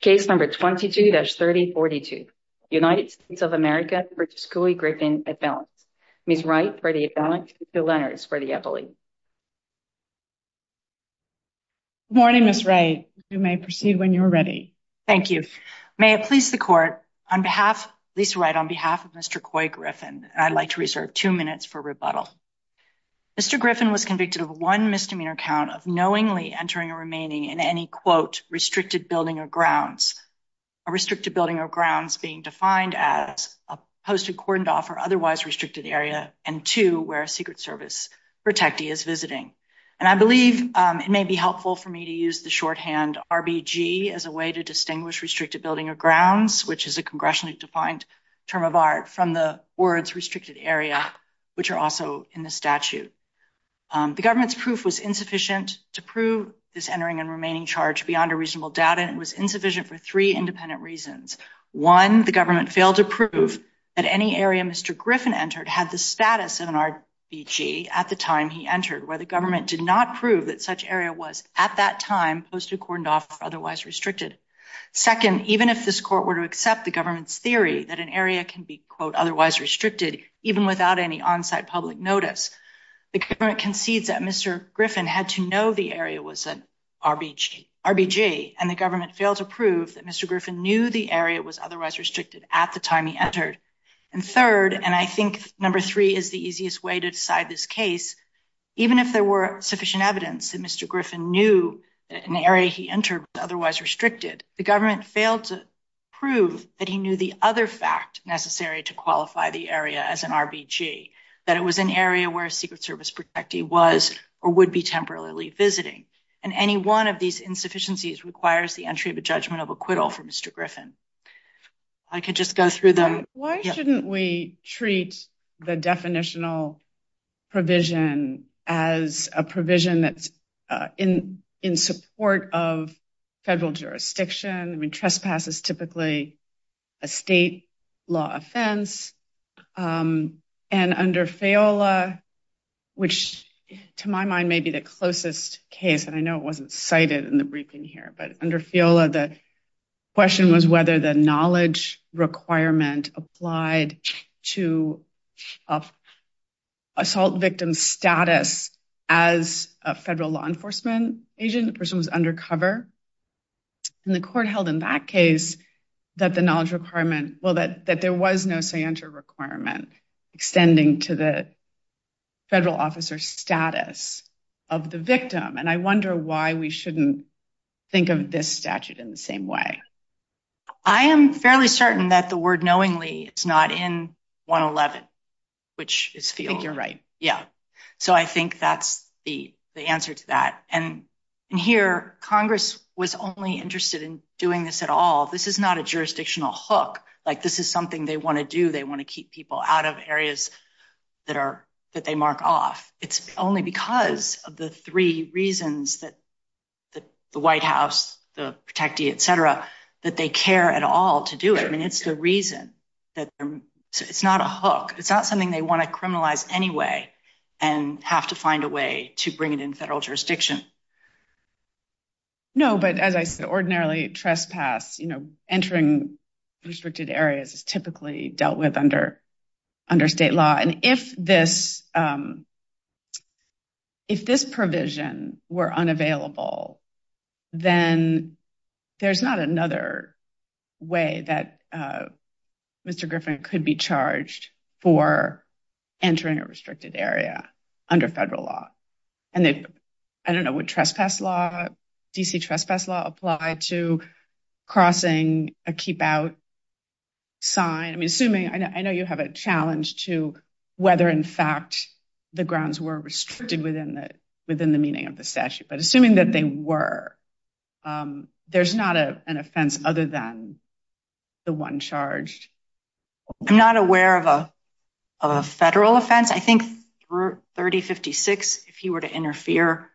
Case number 22-3042, United States of America v. Couy Griffin, Avalanche. Ms. Wright for the Avalanche, Ms. Lenners for the Eppley. Good morning, Ms. Wright. You may proceed when you are ready. Thank you. May it please the Court, on behalf of Ms. Wright, on behalf of Mr. Couy Griffin, I'd like to reserve two minutes for rebuttal. Mr. Griffin was convicted of one misdemeanor count of knowingly entering or remaining in any, quote, restricted building or grounds, a restricted building or grounds being defined as a post-accordant off or otherwise restricted area, and two, where a Secret Service protectee is visiting. And I believe it may be helpful for me to use the shorthand RBG as a way to distinguish restricted building or grounds, which is a congressionally defined term of art, from the words restricted area, which are also in the statute. The government's proof was insufficient to prove this entering and remaining charge beyond a reasonable doubt, and it was insufficient for three independent reasons. One, the government failed to prove that any area Mr. Griffin entered had the status of an RBG at the time he entered, where the government did not prove that such area was, at that time, post-accordant off or otherwise restricted. Second, even if this Court were to accept the notice, the government concedes that Mr. Griffin had to know the area was an RBG, and the government failed to prove that Mr. Griffin knew the area was otherwise restricted at the time he entered. And third, and I think number three is the easiest way to decide this case, even if there were sufficient evidence that Mr. Griffin knew an area he entered was otherwise restricted, the government failed to prove that he knew the other fact necessary to qualify the that it was an area where a Secret Service protectee was or would be temporarily visiting. And any one of these insufficiencies requires the entry of a judgment of acquittal for Mr. Griffin. I could just go through them. Why shouldn't we treat the definitional provision as a provision that's in support of federal jurisdiction? I mean, trespass is typically a state law offense, and under FEOLA, which to my mind may be the closest case, and I know it wasn't cited in the briefing here, but under FEOLA, the question was whether the knowledge requirement applied to assault victim status as a federal law enforcement agent, the person was undercover. And the Court held in that case that the knowledge requirement, well, that there was no scienter requirement extending to the federal officer's status of the victim. And I wonder why we shouldn't think of this statute in the same way. I am fairly certain that the word knowingly is not in 111, which is FEOLA. I think you're right. Yeah. So I think that's the answer to that. And here, Congress was only interested in doing this at all. This is not a jurisdictional hook. This is something they want to do. They want to keep people out of areas that they mark off. It's only because of the three reasons that the White House, the protectee, et cetera, that they care at all to do it. I mean, it's the reason. It's not a hook. It's not something they want to criminalize anyway and have to find a way to bring it in federal jurisdiction. No, but as I said, ordinarily trespass, entering restricted areas is typically dealt with under state law. And if this provision were unavailable, then there's not another way that Mr. Griffin could be charged for entering a restricted area under federal law. And I don't know, would D.C. trespass law apply to crossing a keep out sign? I mean, I know you have a challenge to whether, in fact, the grounds were restricted within the meaning of the statute. But assuming that they were, there's not an offense other than the one charged. I'm not aware of a federal offense. I think through 3056, if he were to interfere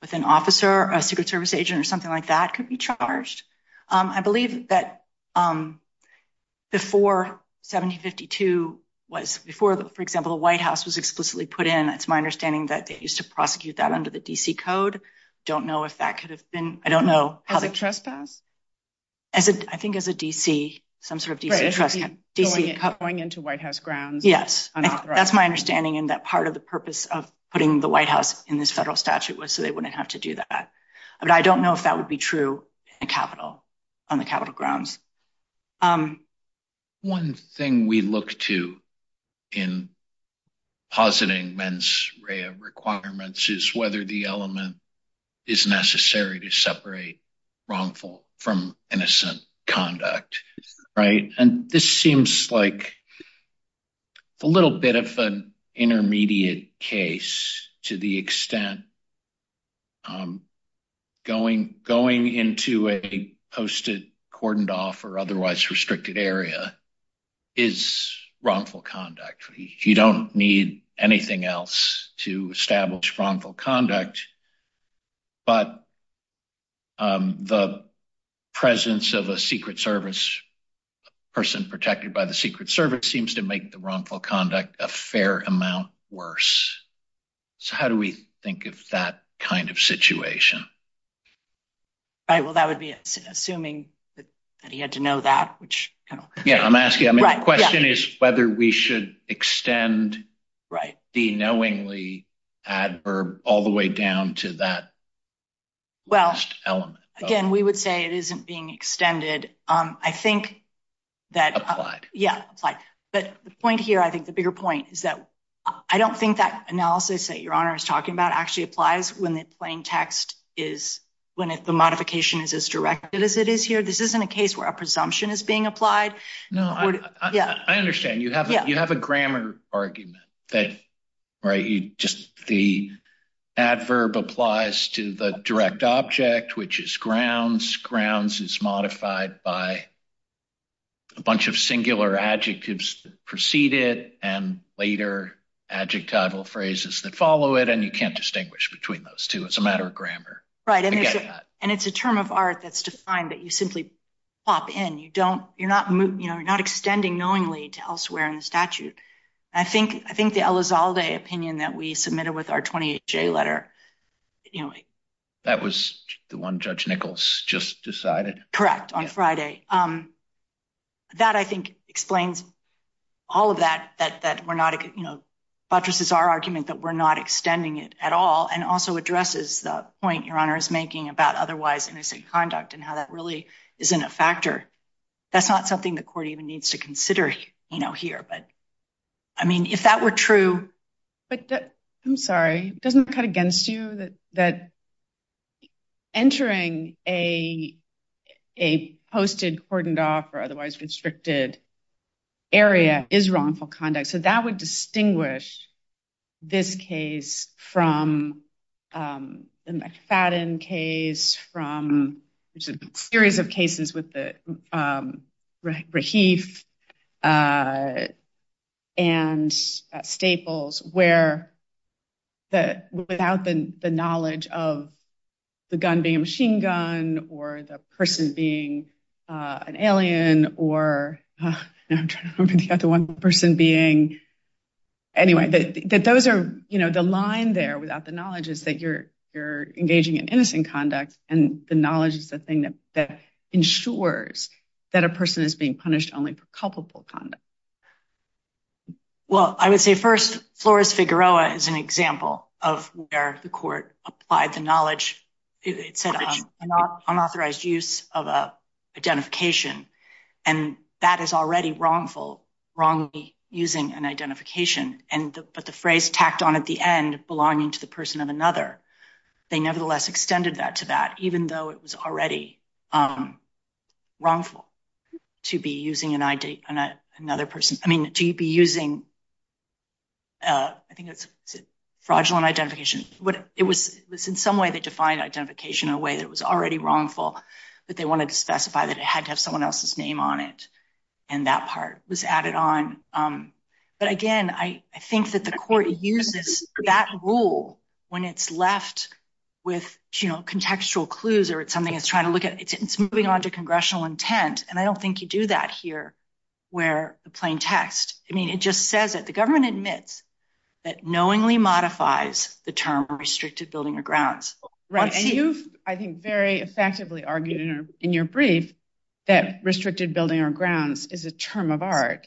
with an officer, a Secret Service agent or something like that could be charged. I believe that before 1752 was, before, for example, the White House was explicitly put in, it's my understanding that they used to prosecute that under the D.C. code. Don't know if that could have been, I don't know. As a trespass? I think as a D.C., some sort of D.C. trespass. Going into White House grounds. Yes, that's my understanding in that part of the purpose of putting the White House in this federal statute was so they wouldn't have to do that. But I don't know if that would be true on the Capitol grounds. One thing we look to in positing mens rea requirements is whether the element is necessary to separate wrongful from innocent conduct, right? And this seems like a little bit of an intermediate case to the extent going into a posted, cordoned off, or otherwise restricted area is wrongful conduct. You don't need anything else to establish wrongful conduct. But the presence of a Secret Service, person protected by the Secret Service seems to make the wrongful conduct a fair amount worse. So how do we think of that kind of situation? Right, well, that would be assuming that he had to know that. Yeah, I'm asking, the question is whether we should extend the knowingly adverb all the way down to that element. Well, again, we would say it isn't being extended. I think that applied. Yeah, but the point here, I think the bigger point is that I don't think that analysis that Your Honor is talking about actually applies when the plain text is when the modification is as directed as it is here. This isn't a case where a presumption is being applied. No, I understand. You have a grammar argument that, right, just the adverb applies to the direct object, which is grounds. Grounds is modified by a bunch of singular adjectives that precede it and later adjectival phrases that follow it. And you can't distinguish between those two. It's a matter of grammar. Right, and it's a term of art that's defined that you simply pop in. You don't, you're not, you know, you're not extending knowingly to elsewhere in the statute. I think the Elizalde opinion that we submitted with our 28-J letter, you know. That was the one Judge Nichols just decided? Correct, on Friday. That, I think, explains all of that, that we're not, you know, buttresses our argument that we're not extending it at all and also addresses the point Your Honor is making about otherwise innocent conduct and how that really isn't a factor. That's not something the court even needs to consider, you know, here. But, I mean, if that were true. But, I'm sorry, doesn't it cut against you that entering a posted cordoned off or otherwise restricted area is wrongful conduct? So that would distinguish this case from the McFadden case, from a series of cases with the Rahif and Staples where that without the knowledge of the gun being a machine gun or the person being an alien or, I'm trying to remember the other one, the person being, anyway, that those are, you know, the line there without the knowledge is that you're engaging in innocent conduct and the knowledge is the thing that ensures that a person is being punished only for culpable conduct. Well, I would say first, Flores-Figueroa is an example of where the court applied the knowledge, it said, unauthorized use of a identification and that is already wrongful, wrongly using an identification. But the phrase tacked on at the end, belonging to the person of another, they nevertheless extended that to that even though it was already wrongful to be using another person. I mean, to be using, I think it's fraudulent identification, but it was in some way they defined identification in a way that was already wrongful, but they wanted to specify that it had to have someone else's name on it and that part was added on. But again, I think that the court uses that rule when it's left with, you know, contextual clues or it's something it's trying to look at, it's moving on to congressional intent and I don't think you do that here where the plain text, I mean, it just says that the government admits that knowingly modifies the term restricted building or grounds. Right, and you've, I think, very effectively argued in your brief that restricted building or grounds is a term of art,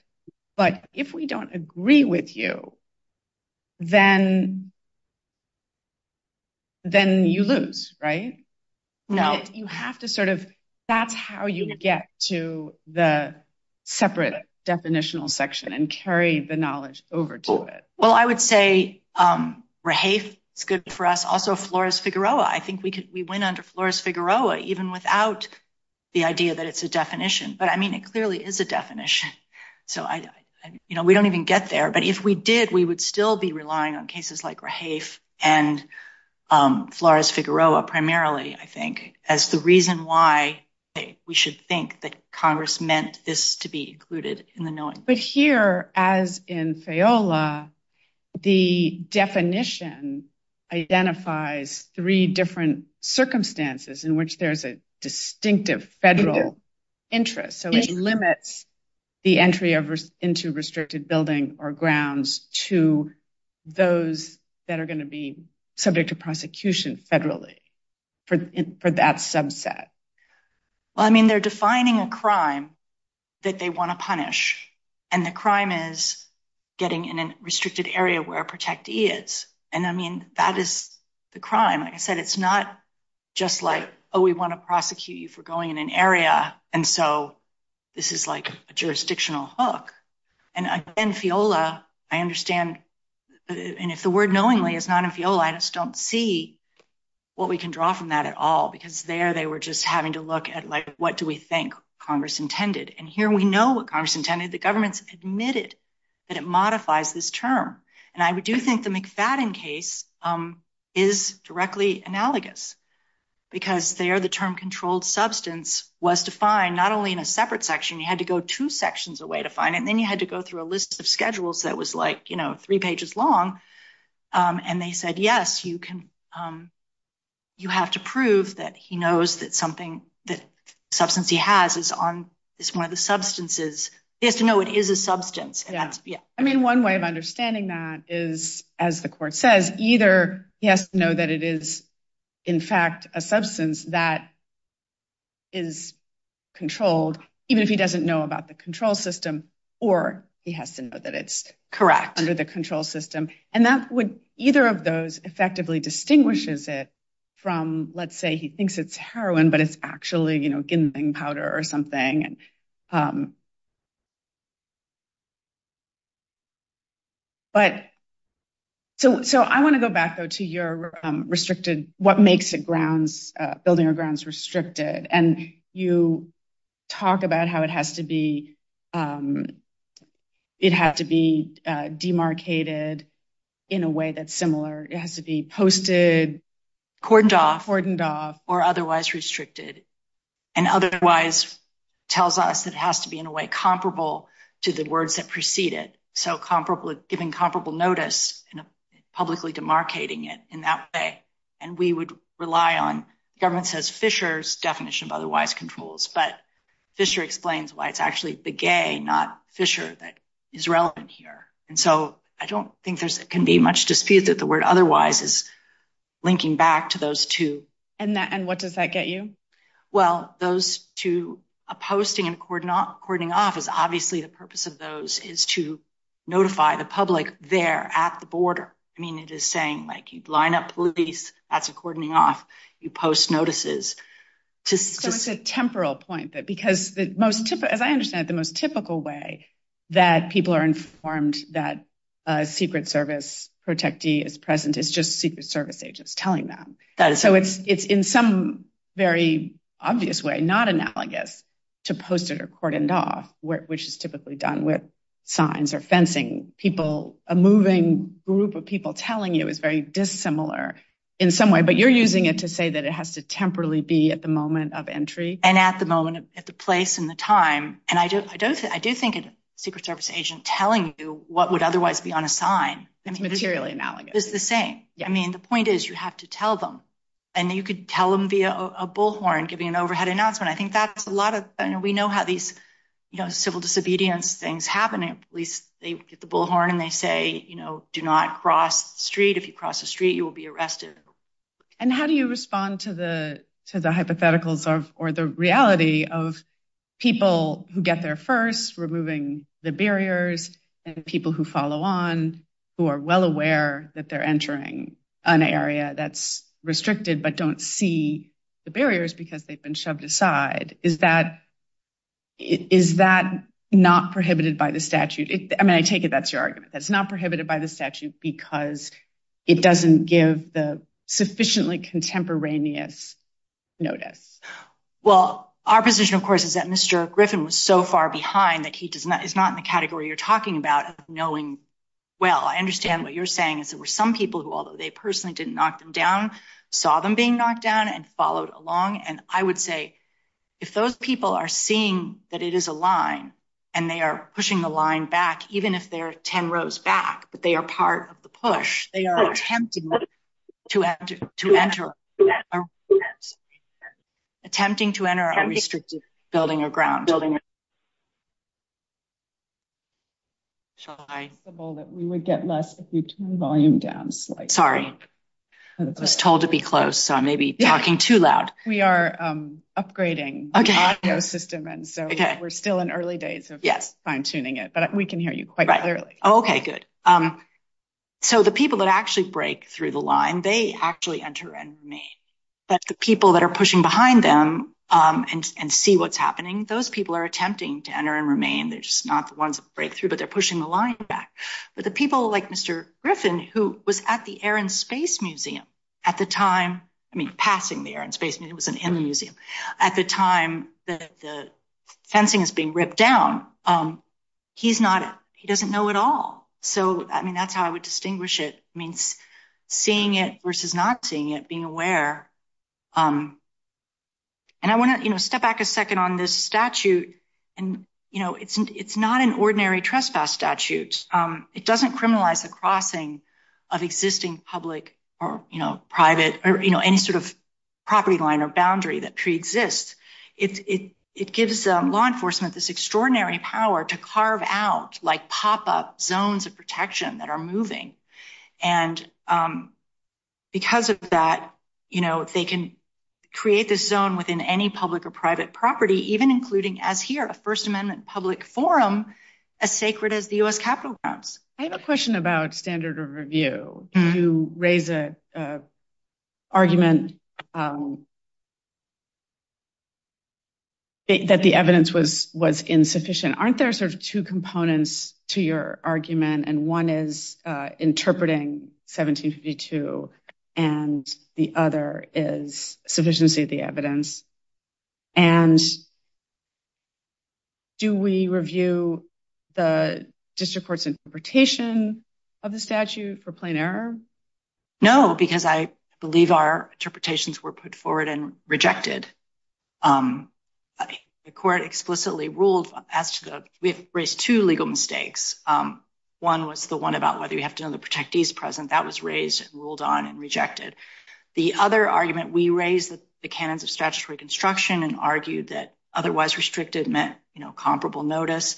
but if we don't agree with you, then you lose, right? No. You have to sort of, that's how you get to the separate definitional section and carry the knowledge over to it. Well, I would say Rahafe is good for us, also Flores-Figueroa. I think we could, we went under Flores-Figueroa even without the idea that it's a definition, but I mean, it clearly is a definition. So I, you know, we don't even get there, but if we did, we would still be relying on cases like Rahafe and Flores-Figueroa primarily, I think, as the reason why we should think that Congress meant this to be included in the knowing. But here, as in Feola, the definition identifies three different circumstances in which there's a distinctive federal interest. So it limits the entry into restricted building or grounds to those that are going to be subject to prosecution federally for that subset. Well, I mean, they're defining a crime that they want to punish, and the crime is getting in a restricted area where a protectee is. And I mean, that is the crime. Like I said, it's not just like, oh, we want to prosecute you for going in an area, and so this is like a jurisdictional hook. And again, Feola, I understand, and if the word knowingly is not in Feola, I just don't see what we can draw from that at all, because there they were just having to look at, like, what do we think Congress intended? And here we know what Congress intended. The government's admitted that it modifies this term. And I do think the McFadden case is directly analogous, because there the term controlled substance was defined not only in a separate section, you had to go two sections away to find it, and then you had to go through a list of schedules that was like, you know, three pages long. And they said, yes, you have to prove that he knows that something, that substance he has is one of the substances. He has to know it is a substance. I mean, one way of understanding that is, as the court says, either he has to know that it is, in fact, a substance that is controlled, even if he doesn't know about the control system, or he has to know that it's correct under the control system. And that would, either of those effectively distinguishes it from, let's say he thinks it's heroin, but it's actually, you know, ginseng powder or something. But so I want to go back, though, to your restricted, what makes it restricted? And you talk about how it has to be, it has to be demarcated in a way that's similar, it has to be posted, cordoned off, or otherwise restricted. And otherwise, tells us that it has to be in a way comparable to the words that preceded. So comparable, giving comparable notice and publicly demarcating it in that way. And we would rely on, the government says, Fisher's definition of otherwise controls, but Fisher explains why it's actually the gay, not Fisher, that is relevant here. And so I don't think there can be much dispute that the word otherwise is linking back to those two. And what does that get you? Well, those two, a posting and cordoning off is obviously the purpose of those is to notify the border. I mean, it is saying like, you'd line up police, that's a cordoning off, you post notices. So it's a temporal point that because the most, as I understand it, the most typical way that people are informed that a Secret Service protectee is present is just Secret Service agents telling them. So it's in some very obvious way, not analogous to posted or cordoned off, which is typically done with signs or fencing people. A moving group of people telling you is very dissimilar in some way, but you're using it to say that it has to temporarily be at the moment of entry. And at the moment, at the place and the time. And I do think a Secret Service agent telling you what would otherwise be on a sign. It's materially analogous. It's the same. I mean, the point is you have to tell them and you could tell them via a bullhorn giving an civil disobedience things happening. At least they get the bullhorn and they say, you know, do not cross the street. If you cross the street, you will be arrested. And how do you respond to the hypotheticals or the reality of people who get there first, removing the barriers and people who follow on, who are well aware that they're entering an area that's restricted, but don't see the barriers because they've been shoved aside? Is that not prohibited by the statute? I mean, I take it that's your argument. That's not prohibited by the statute because it doesn't give the sufficiently contemporaneous notice. Well, our position, of course, is that Mr. Griffin was so far behind that he does not, is not in the category you're talking about of knowing. Well, I understand what you're saying is there were some people who, although they personally didn't knock them down, saw them being knocked down and followed along. And I would say if those people are seeing that it is a line and they are pushing the line back, even if they're 10 rows back, but they are part of the push, they are attempting to enter a restricted building or ground. We would get less if you turn the volume down slightly. Sorry. I was told to be close, so I may be talking too loud. We are upgrading the audio system, and so we're still in early days of fine-tuning it, but we can hear you quite clearly. Okay, good. So the people that actually break through the line, they actually enter and remain. But the people that are pushing behind them and see what's happening, those people are attempting to enter and remain. They're just not the ones that break through, but they're pushing the line back. But the people like Mr. Griffin, who was at the Air and Space Museum at the time, I mean, passing the Air and Space Museum, he wasn't in the museum, at the time that the fencing is being ripped down, he doesn't know it all. So, I mean, that's how I would distinguish it. I mean, seeing it versus not seeing it, being aware. And I want to step back a second on this statute. And it's not an ordinary trespass statute. It doesn't criminalize the crossing of existing public or private, or any sort of property line or boundary that pre-exists. It gives law enforcement this extraordinary power to carve out, like pop-up zones of protection that are moving. And because of that, they can create this zone within any public or private property, even including, as here, a First U.S. Capitol grounds. I have a question about standard of review. You raise an argument that the evidence was insufficient. Aren't there sort of two components to your argument? And one is interpreting 1752, and the other is sufficiency of the evidence. And do we review the district court's interpretation of the statute for plain error? No, because I believe our interpretations were put forward and rejected. The court explicitly ruled, we have raised two legal mistakes. One was the one about whether we have to know the protectees present. That was raised, ruled on, and rejected. The other argument, we raised the canons of statutory construction and argued that otherwise restricted meant comparable notice.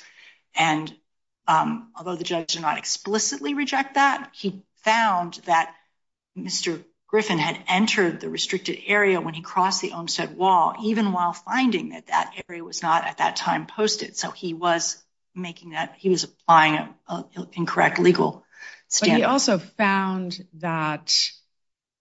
And although the judge did not explicitly reject that, he found that Mr. Griffin had entered the restricted area when he crossed the Olmstead Wall, even while finding that that area was not, at that time, posted. So he was applying an incorrect legal standard. He also found that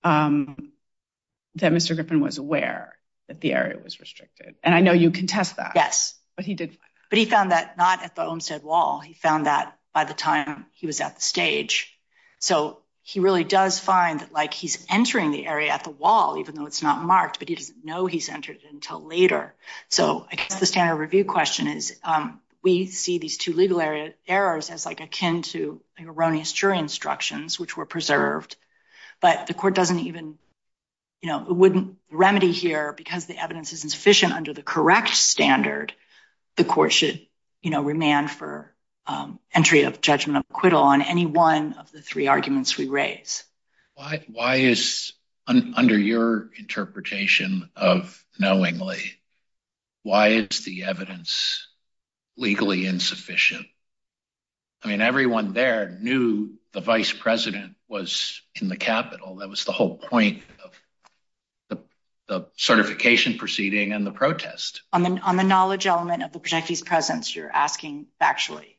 Mr. Griffin was aware that the area was restricted. And I know you contest that. Yes. But he did find that. But he found that not at the Olmstead Wall. He found that by the time he was at the stage. So he really does find that he's entering the area at the wall, even though it's not marked, but he doesn't know he's entered it until later. So I guess the standard review question is, we see these two legal errors as akin to erroneous jury instructions, which were preserved. But the court doesn't even, it wouldn't remedy here because the evidence isn't sufficient under the correct standard. The court should remand for entry of judgment of acquittal on any one of the three arguments we raise. Why is, under your interpretation of knowingly, why is the evidence legally insufficient? I mean, everyone there knew the vice president was in the Capitol. That was the whole point of the certification proceeding and the protest. On the knowledge element of the protectees' presence, you're asking factually.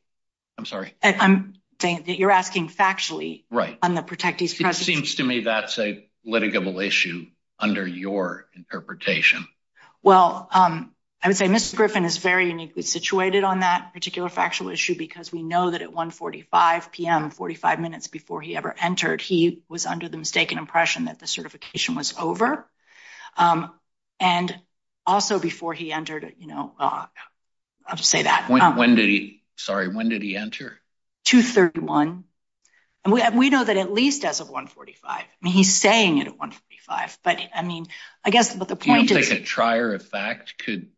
I'm sorry? I'm saying that you're asking factually on the protectees' presence. It seems to me that's a litigable issue under your interpretation. Well, I would say Mr. Griffin is very uniquely situated on that particular factual issue because we know that at 1.45 p.m., 45 minutes before he ever entered, he was under the mistaken impression that the certification was over. And also before he entered, you know, I'll just say when did he, sorry, when did he enter? 2.31. And we know that at least as of 1.45. I mean, he's saying it at 1.45. But I mean, I guess, but the point is, Do you think a trier of fact could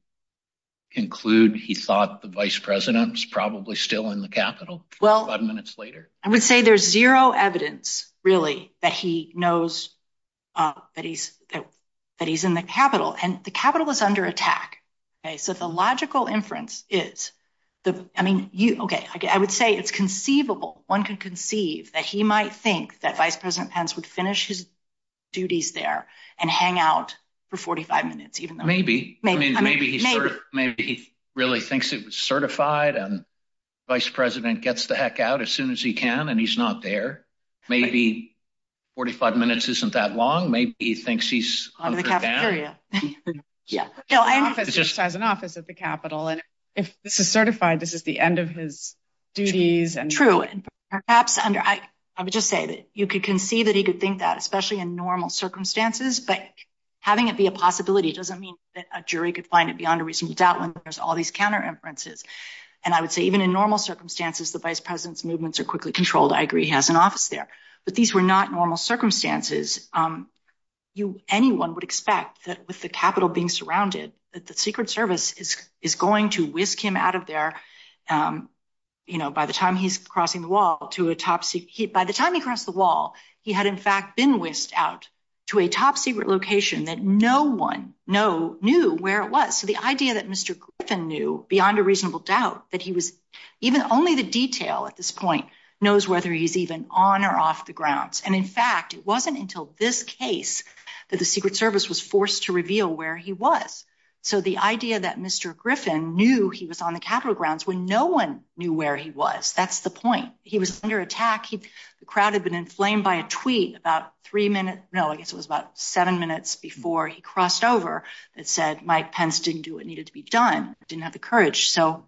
include he thought the vice president was probably still in the Capitol? Well, I would say there's zero evidence, really, that he knows that he's in the Capitol. And the inference is, I mean, okay, I would say it's conceivable, one could conceive that he might think that Vice President Pence would finish his duties there and hang out for 45 minutes, even though. Maybe. I mean, maybe he really thinks it was certified and vice president gets the heck out as soon as he can, and he's not there. Maybe 45 minutes isn't that long. Maybe he thinks he's under the capitol. Yeah, no, I just has an office at the Capitol. And if this is certified, this is the end of his duties and true, perhaps under I would just say that you could conceive that he could think that especially in normal circumstances. But having it be a possibility doesn't mean that a jury could find it beyond a reasonable doubt when there's all these counter inferences. And I would say even in normal circumstances, the vice president's movements are quickly controlled. I agree he has an office there. But these were not normal circumstances. You anyone would expect that with the capitol being surrounded, that the Secret Service is going to whisk him out of there. You know, by the time he's crossing the wall to a top seat by the time he crossed the wall, he had in fact been whisked out to a top secret location that no one knew where it was. So the idea that Mr. Griffin knew beyond a reasonable doubt that he was even only the detail at this point knows whether he's even on or off the grounds. And in fact, it wasn't until this case that the Secret Service was forced to reveal where he was. So the idea that Mr. Griffin knew he was on the Capitol grounds when no one knew where he was. That's the point. He was under attack. The crowd had been inflamed by a tweet about three minutes. No, I guess it was about seven minutes before he crossed over. It said Mike Pence didn't do what needed to be done, didn't have the courage. So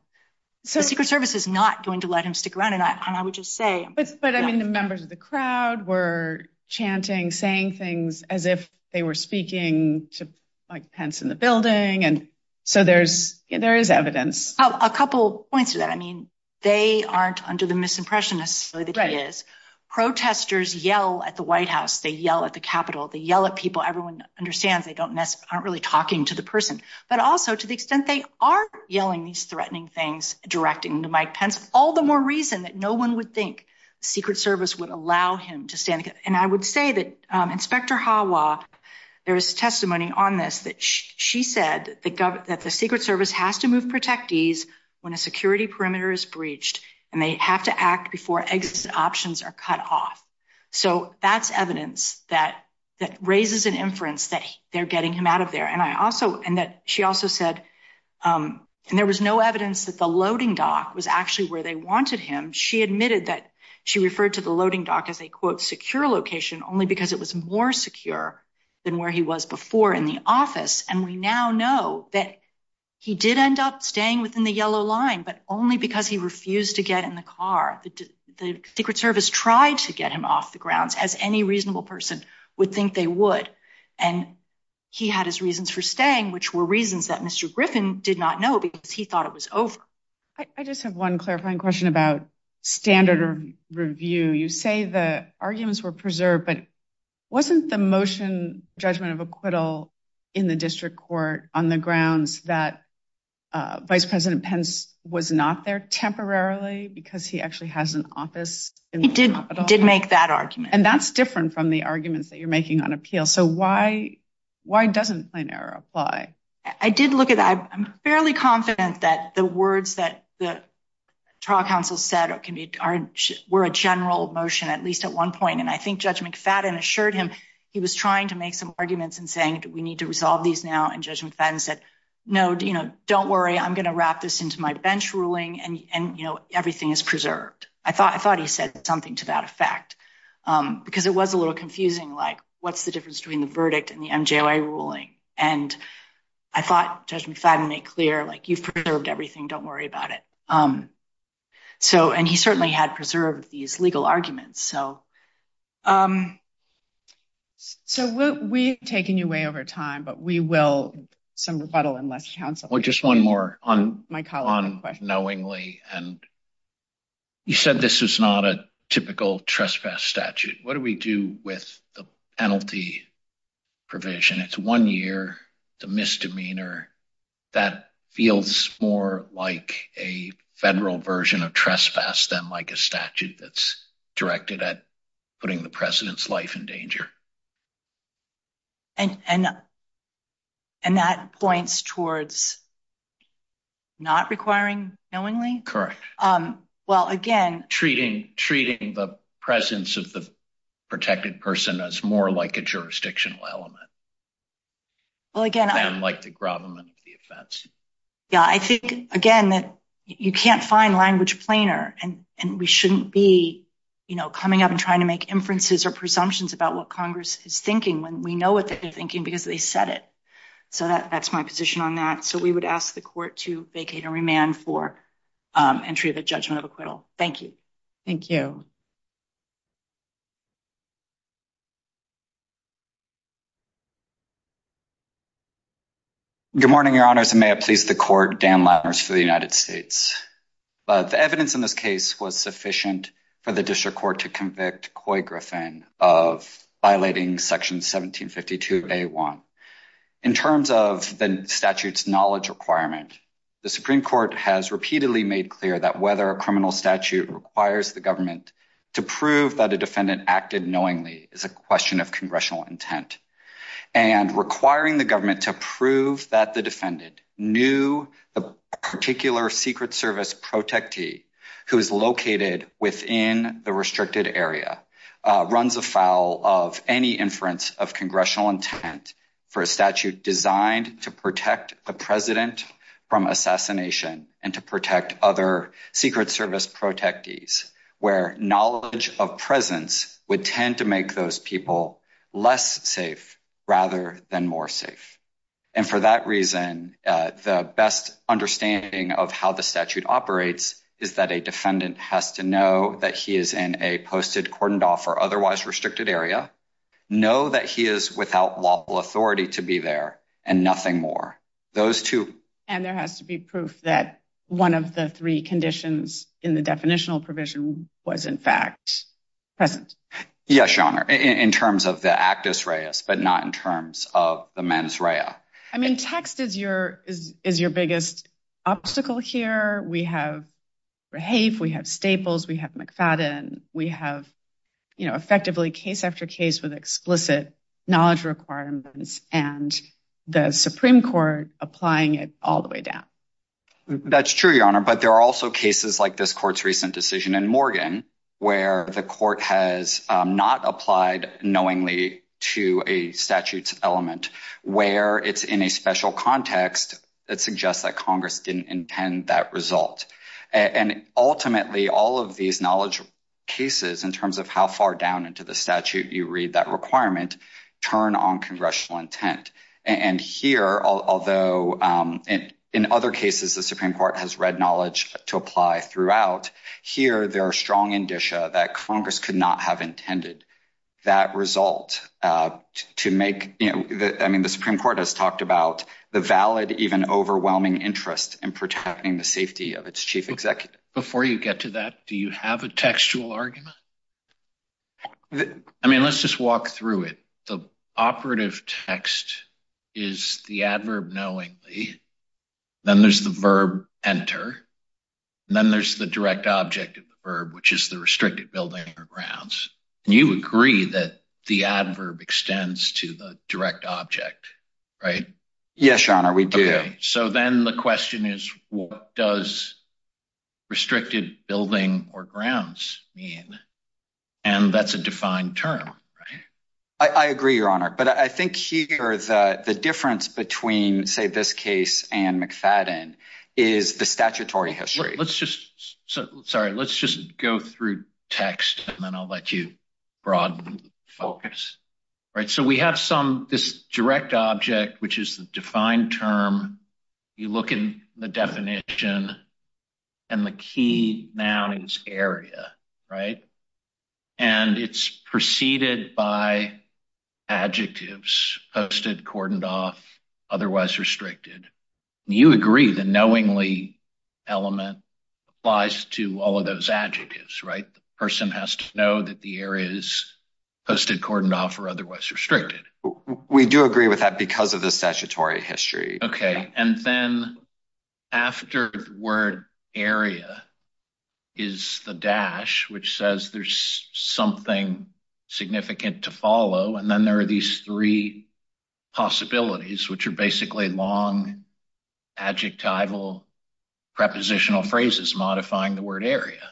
the Secret Service is not going to let him stick around. And I would say. But I mean, the members of the crowd were chanting, saying things as if they were speaking to Mike Pence in the building. And so there's there is evidence. A couple points to that. I mean, they aren't under the misimpression necessarily that he is. Protesters yell at the White House. They yell at the Capitol. They yell at people. Everyone understands they don't mess aren't really talking to the person, but also to the extent they are yelling these threatening things directing to Mike Pence. All the more reason that no one would think Secret Service would allow him to stand. And I would say that Inspector Hawa, there is testimony on this that she said that the Secret Service has to move protectees when a security perimeter is breached and they have to act before exit options are cut off. So that's evidence that that raises an inference that they're getting him out of there. And I also and that she also said and there was no evidence that the loading dock was actually where they wanted him. She admitted that she referred to the loading dock as a, quote, secure location only because it was more secure than where he was before in the office. And we now know that he did end up staying within the yellow line, but only because he refused to get in the car. The Secret Service tried to get him off the grounds as any reasonable person would think they would. And he had his did not know because he thought it was over. I just have one clarifying question about standard review. You say the arguments were preserved, but wasn't the motion judgment of acquittal in the district court on the grounds that Vice President Pence was not there temporarily because he actually has an office? He did make that argument. And that's different from the I'm fairly confident that the words that the trial counsel said can be were a general motion, at least at one point. And I think Judge McFadden assured him he was trying to make some arguments and saying, we need to resolve these now. And Judge McFadden said, no, don't worry, I'm going to wrap this into my bench ruling. And everything is preserved. I thought I thought he said something to that effect because it was a little confusing. Like, what's the difference between the verdict and the MJOA ruling? And I thought Judge McFadden made clear, like, you've preserved everything. Don't worry about it. So and he certainly had preserved these legal arguments. So. So we've taken you way over time, but we will some rebuttal unless counsel or just one more on my call on knowingly. And you said this is not a typical trespass statute. What do we do with the penalty provision? It's one year, the misdemeanor that feels more like a federal version of trespass than like a statute that's directed at putting the president's life in danger. And and and that points towards not requiring knowingly? Correct. Well, again, treating treating the presence of the protected person as more like a jurisdictional element. Well, again, I'm like the government of the offense. Yeah, I think, again, that you can't find language plainer. And and we shouldn't be, you know, coming up and trying to make inferences or presumptions about what Congress is thinking when we know what they're thinking because they said it. So that's my position on that. So we would ask the court to vacate and remand for entry of the judgment of acquittal. Thank you. Thank you. Good morning, Your Honors, and may I please the court, Dan Lammers for the United States. But the evidence in this case was sufficient for the district court to convict Coy Griffin of violating Section 1752 A1. In terms of the statute's knowledge requirement, the Supreme Court has repeatedly made clear that whether a criminal statute requires the government to prove that a defendant acted knowingly is a question of congressional intent and requiring the government to prove that the defendant knew the particular Secret Service protectee who is located within the restricted area runs afoul of any inference of congressional intent for a statute designed to protect the president from assassination and to protect other Secret Service protectees, where knowledge of presence would tend to make those people less safe rather than more safe. And for that reason, the best understanding of how the statute operates is that a defendant has to know that he is in a posted, cordoned off, or otherwise lawful authority to be there and nothing more. Those two. And there has to be proof that one of the three conditions in the definitional provision was in fact present. Yes, Your Honor, in terms of the actus reus, but not in terms of the mens rea. I mean, text is your biggest obstacle here. We have rehave, we have staples, we have McFadden, we have, you know, effectively case after case with explicit knowledge requirements and the Supreme Court applying it all the way down. That's true, Your Honor, but there are also cases like this court's recent decision in Morgan, where the court has not applied knowingly to a statute's element, where it's in a special context that suggests that Congress didn't intend that result. And ultimately, all of these knowledge cases, in terms of how far down into the statute you read that requirement, turn on congressional intent. And here, although in other cases, the Supreme Court has read knowledge to apply throughout. Here, there are strong indicia that Congress could not have intended that result to make, you know, I mean, the Supreme Court has talked about the valid, even overwhelming interest in protecting the safety of its chief executive. Before you get to that, do you have a textual argument? I mean, let's just walk through it. The operative text is the adverb knowingly, then there's the verb enter, and then there's the direct object of the verb, which is the restricted building or grounds. And you agree that the adverb extends to the direct object, right? Yes, Your Honor, we do. Okay, so then the question is what does restricted building or grounds mean? And that's a defined term, right? I agree, Your Honor, but I think here, the difference between, say, this case and McFadden is the statutory history. Let's just, sorry, let's just go through text, and then I'll let you broaden the focus. Right, so we have some, this direct object, which is the defined term. You look in the definition, and the key noun is area, right? And it's preceded by adjectives, posted, cordoned off, otherwise restricted. You agree the knowingly element applies to all of those adjectives, right? The person has to know that the areas posted, cordoned off, or otherwise restricted. We do agree with that because of the statutory history. Okay, and then after the word area is the dash, which says there's something significant to follow, and then there are these three possibilities, which are basically long, adjectival, prepositional phrases modifying the word area.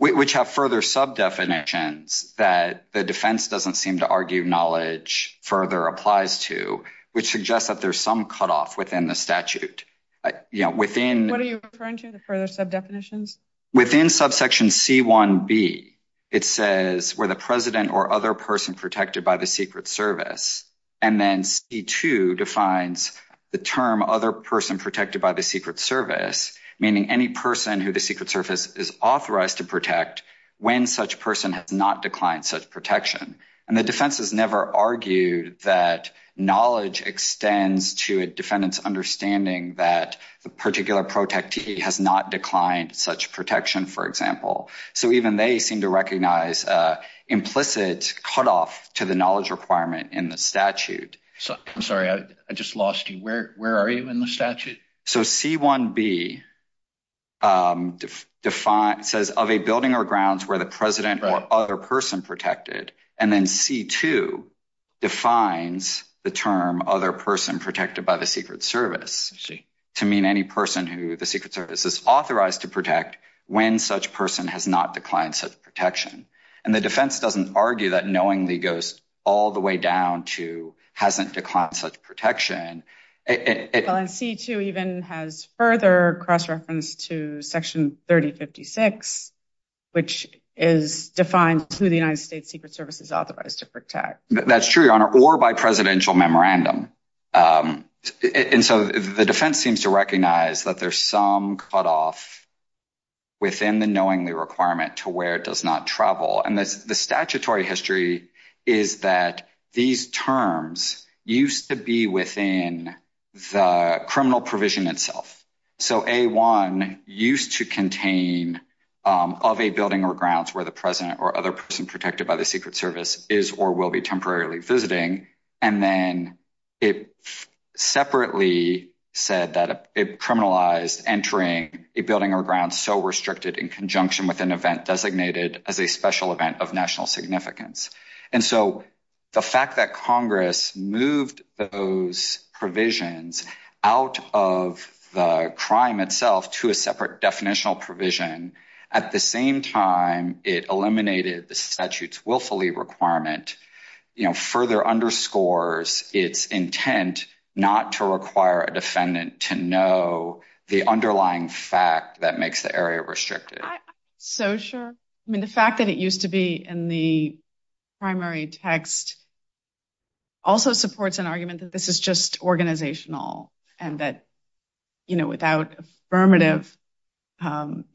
Which have further sub-definitions that the defense doesn't seem to argue knowledge further applies to, which suggests that there's some cutoff within the statute. You know, within... What are you referring to, the further sub-definitions? Within subsection C1b, it says, were the president or other person protected by the Secret Service? And then C2 defines the term other person protected by the Secret Service, meaning any person who the Secret Service is authorized to protect when such person has not declined such protection. And the defense has never argued that knowledge extends to a defendant's understanding that the particular protege has not declined such protection, for example. So, even they seem to recognize implicit cutoff to the knowledge requirement in the statute. I'm sorry, I just lost you. Where are you in the statute? So, C1b says, of a building or grounds where the president or other person protected, and then C2 defines the term other person protected by the Secret Service, to mean any person who the Secret Service is authorized to protect when such person has not declined such protection. And the defense doesn't argue that knowingly goes all the way down to hasn't declined such protection. Well, and C2 even has further cross-reference to Section 3056, which is defined to the United States Secret Service is authorized to protect. That's true, Your Honor, or by presidential memorandum. And so, the defense seems to recognize that there's some cutoff within the knowingly requirement to where it does not travel. And the statutory history is that these terms used to be within the criminal provision itself. So, A1 used to contain of a building or grounds where the president or other person protected by the Secret Service is or will be temporarily visiting. And then it separately said that it criminalized entering a building or grounds so restricted in conjunction with an event designated as a special event of national significance. And so, the fact that Congress moved those provisions out of the crime itself to a separate definitional provision, at the same time it eliminated the statute's willfully requirement, you know, further underscores its intent not to require a defendant to know the underlying fact that makes the area restricted. So sure. I mean, the fact that it used to be in the primary text also supports an argument that this is just organizational and that, you know, without affirmative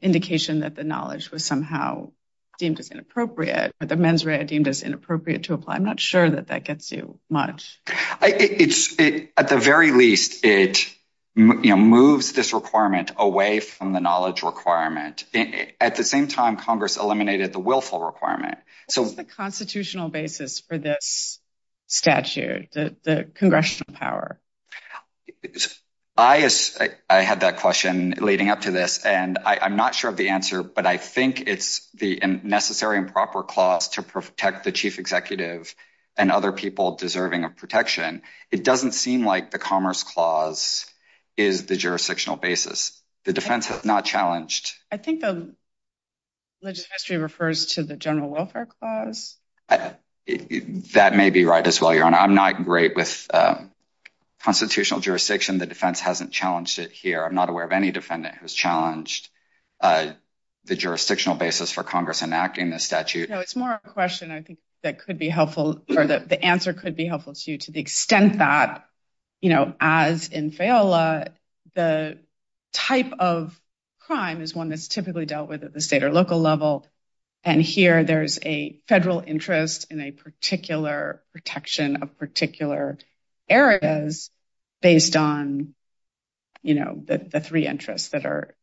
indication that the knowledge was somehow deemed as inappropriate, or the mens rea deemed as inappropriate to apply. I'm not sure that that gets you much. At the very least, it, you know, moves this requirement away from the knowledge requirement. At the same time, Congress eliminated the willful requirement. So what's the constitutional basis for this statute, the congressional power? I had that question leading up to this, and I'm not sure of the answer, but I think it's the necessary and proper clause to protect the chief executive and other people deserving of protection. It doesn't seem like the Commerce Clause is the jurisdictional basis. The defense not challenged. I think the legislature refers to the General Welfare Clause. That may be right as well, Your Honor. I'm not great with constitutional jurisdiction. The defense hasn't challenged it here. I'm not aware of any defendant who's challenged the jurisdictional basis for Congress enacting the statute. No, it's more a question I think that could be helpful, or the answer could be helpful to you, to the extent that, you know, as in FEOLA, the type of crime is one that's typically dealt with at the state or local level. And here there's a federal interest in a particular protection of particular areas based on, you know, the three interests that are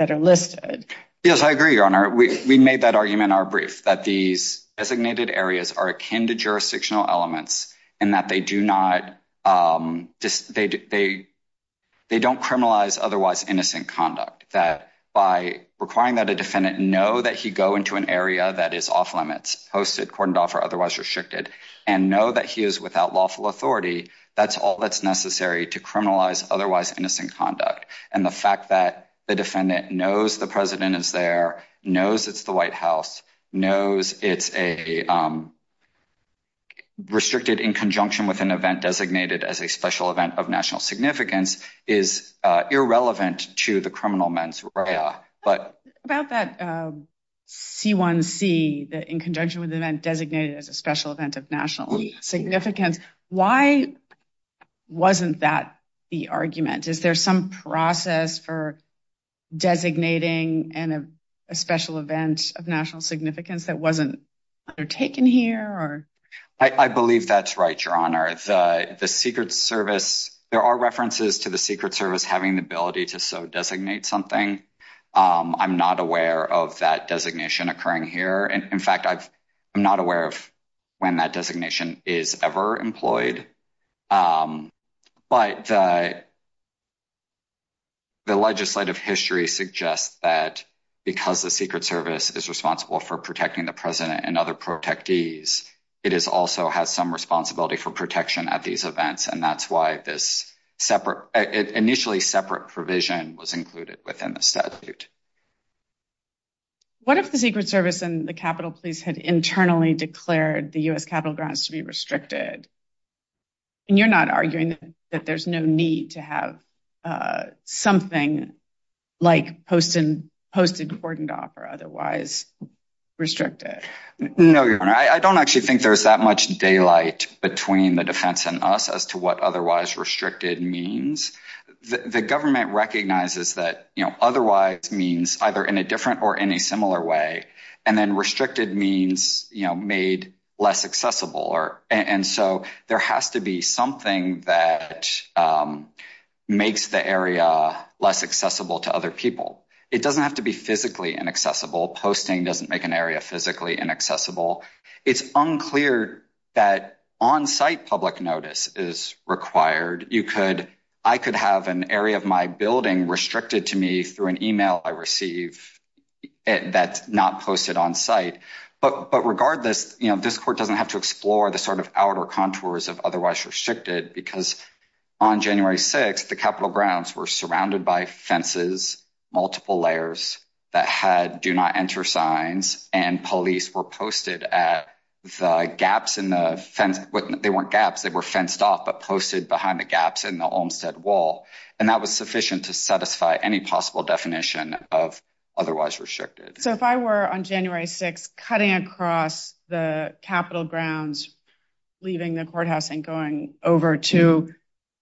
listed. Yes, I agree, Your Honor. We made that argument in our brief that these designated areas are akin to jurisdictional elements and that they don't criminalize otherwise innocent conduct. That by requiring that a defendant know that he go into an area that is off-limits, posted, cordoned off, or otherwise restricted, and know that he is without lawful authority, that's all that's necessary to criminalize otherwise innocent conduct. And the fact that the defendant knows the president is there, knows it's the White House, knows it's a restricted in conjunction with an event designated as a special event of national significance, is irrelevant to the criminal mens rea. About that C1C, that in conjunction with the event designated as a special event of national significance, why wasn't that the argument? Is there some process for designating a special event of national significance that wasn't undertaken here? I believe that's right, Your Honor. The Secret Service, there are references to the Secret Service having the ability to so designate something. I'm not aware of that designation occurring here. In fact, I'm not aware of when that designation is ever employed. But the legislative history suggests that because the Secret Service is responsible for protecting the president and other protectees, it also has some responsibility for protection at these events. And that's why this initially separate provision was included within the statute. What if the Secret Service and the Capitol Police had internally declared the U.S. Capitol grounds to be restricted? And you're not arguing that there's no need to have something like posted cordoned off or otherwise restricted? No, Your Honor. I don't actually think there's that much daylight between the defense and us as to what otherwise restricted means. The government recognizes that otherwise means either in a different or in a similar way, and then restricted means made less accessible. And so there has to be something that makes the area less accessible to other people. It doesn't have to be physically inaccessible. Posting doesn't make an area physically inaccessible. It's unclear that on-site public notice is required. I could have an area of my building restricted to me through an email I receive that's not posted on site. But regardless, this court doesn't have to explore the sort of contours of otherwise restricted because on January 6th, the Capitol grounds were surrounded by fences, multiple layers that had do not enter signs, and police were posted at the gaps in the fence. They weren't gaps. They were fenced off but posted behind the gaps in the Olmstead Wall. And that was sufficient to satisfy any possible definition of otherwise restricted. So if I were on January 6th, cutting across the Capitol grounds, leaving the courthouse and going over to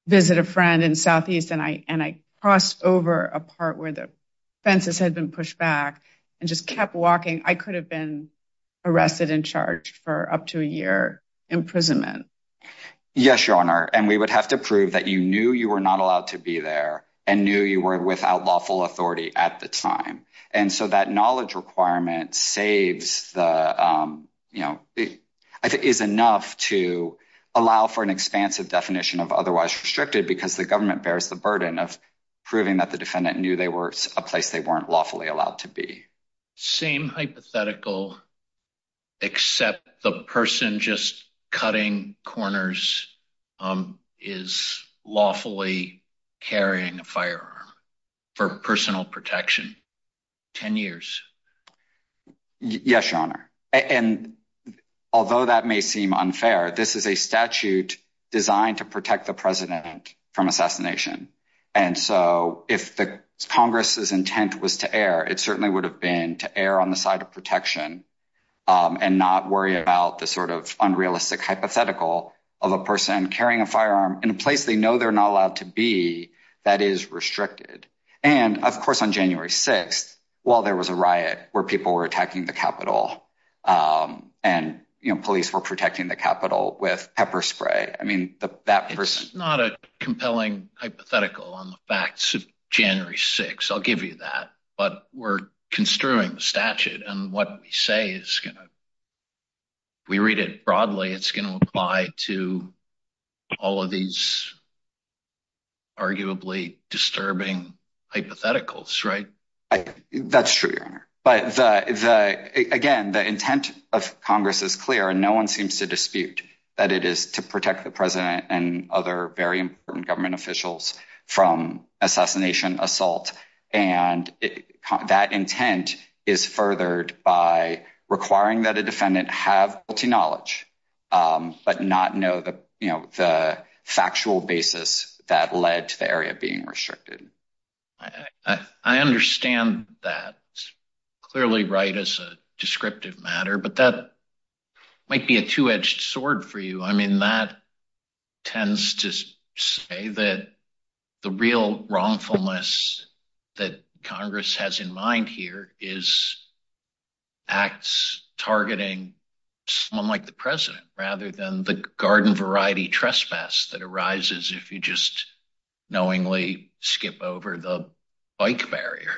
visit a friend in Southeast, and I crossed over a part where the fences had been pushed back and just kept walking, I could have been arrested and charged for up to a year imprisonment. Yes, Your Honor. And we would have to prove that you knew you were not allowed to be there and knew you were without lawful authority at the time. And so that knowledge requirement is enough to allow for an expansive definition of otherwise restricted because the government bears the burden of proving that the defendant knew they were a place they weren't lawfully allowed to be. Same hypothetical, except the person just cutting corners is lawfully carrying a firearm for personal protection, 10 years. Yes, Your Honor. And although that may seem unfair, this is a statute designed to protect the president from assassination. And so if the Congress's intent was to err, it certainly would have been to err on the side of protection and not worry about the sort of unrealistic hypothetical of a person carrying a firearm in a place they know they're not allowed to be that is restricted. And of course, on January 6th, while there was a riot where people were attacking the Capitol, and police were protecting the Capitol with pepper spray, I mean, that person... It's not a compelling hypothetical on the facts of January 6th, I'll give you that. But we're to all of these arguably disturbing hypotheticals, right? That's true, Your Honor. But again, the intent of Congress is clear, and no one seems to dispute that it is to protect the president and other very important government officials from assassination assault. And that intent is furthered by requiring that a defendant have knowledge, but not know the factual basis that led to the area being restricted. I understand that. Clearly right as a descriptive matter, but that might be a two-edged sword for you. I mean, that tends to say that the real wrongfulness that Congress has in mind here is acts targeting someone like the president, rather than the garden variety trespass that arises if you just knowingly skip over the bike barrier.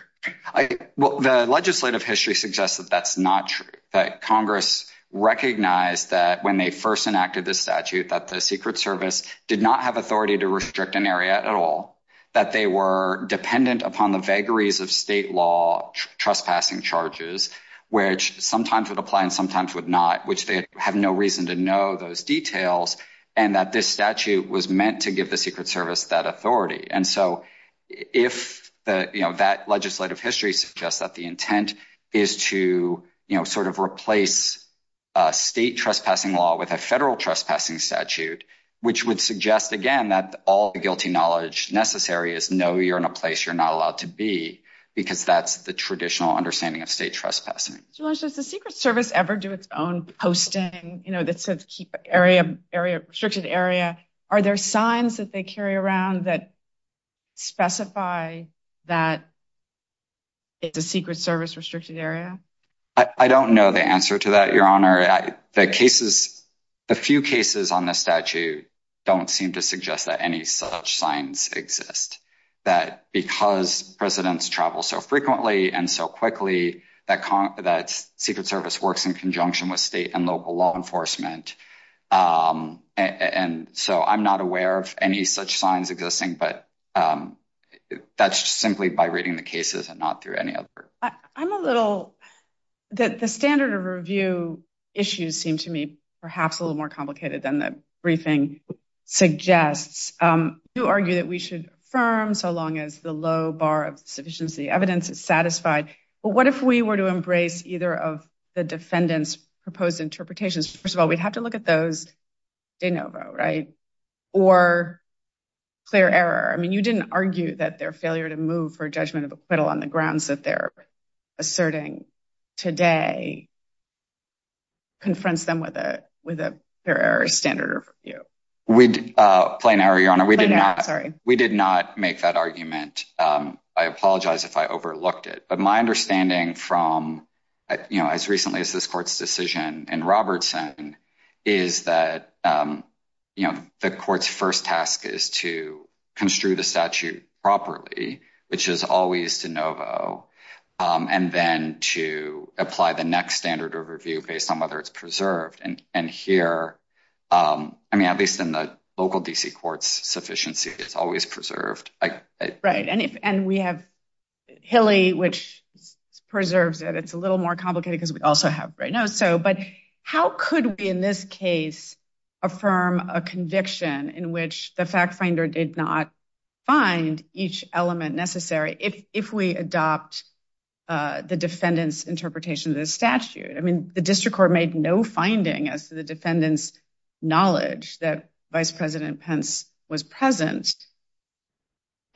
Well, the legislative history suggests that that's not true. That Congress recognized that when they first enacted the statute, that the Secret Service did not have authority to restrict an area at all. That they were dependent upon the vagaries of state law, trespassing charges, which sometimes would apply and sometimes would not, which they have no reason to know those details. And that this statute was meant to give the Secret Service that authority. And so, if that legislative history suggests that the intent is to sort of replace state trespassing law with a federal trespassing statute, which would suggest, again, that all the guilty knowledge necessary is know you're in a place you're not allowed to be, because that's the traditional understanding of state trespassing. Mr. Lynch, does the Secret Service ever do its own posting, you know, that says keep restricted area? Are there signs that they carry around that specify that it's a Secret Service restricted area? I don't know the answer to that, Your Honor. The cases, the few cases on the statute don't seem to suggest that any such signs exist. That because presidents travel so frequently and so quickly, that Secret Service works in conjunction with state and local law enforcement. And so, I'm not aware of any such signs existing, but that's simply by reading the cases and not through any other. I'm a little, that the standard of review issues seem to me perhaps a little more complicated than the briefing suggests. You argue that we should affirm so long as the low bar of sufficiency evidence is satisfied. But what if we were to embrace either of the defendant's proposed interpretations? First of all, we'd have to look at those de novo, right? Or clear error. I mean, you didn't argue that their failure to move for judgment of acquittal on the grounds that they're asserting today confronts them with a clear error standard of review. Plain error, Your Honor. We did not make that argument. I apologize if I overlooked it. But my understanding from as recently as this court's decision in Robertson is that the court's first task is to construe the statute properly, which is always de novo, and then to apply the next standard of review based on whether it's preserved. And here, I mean, at least in the local D.C. courts, sufficiency is always preserved. Right. And we have Hilly, which preserves it. It's a little more complicated because we also have Brainoso. But how could we, in this case, affirm a conviction in which the fact finder did not find each element necessary if we adopt the defendant's interpretation of the statute? I mean, the district court made no finding as to the defendant's knowledge that Vice President Pence was present.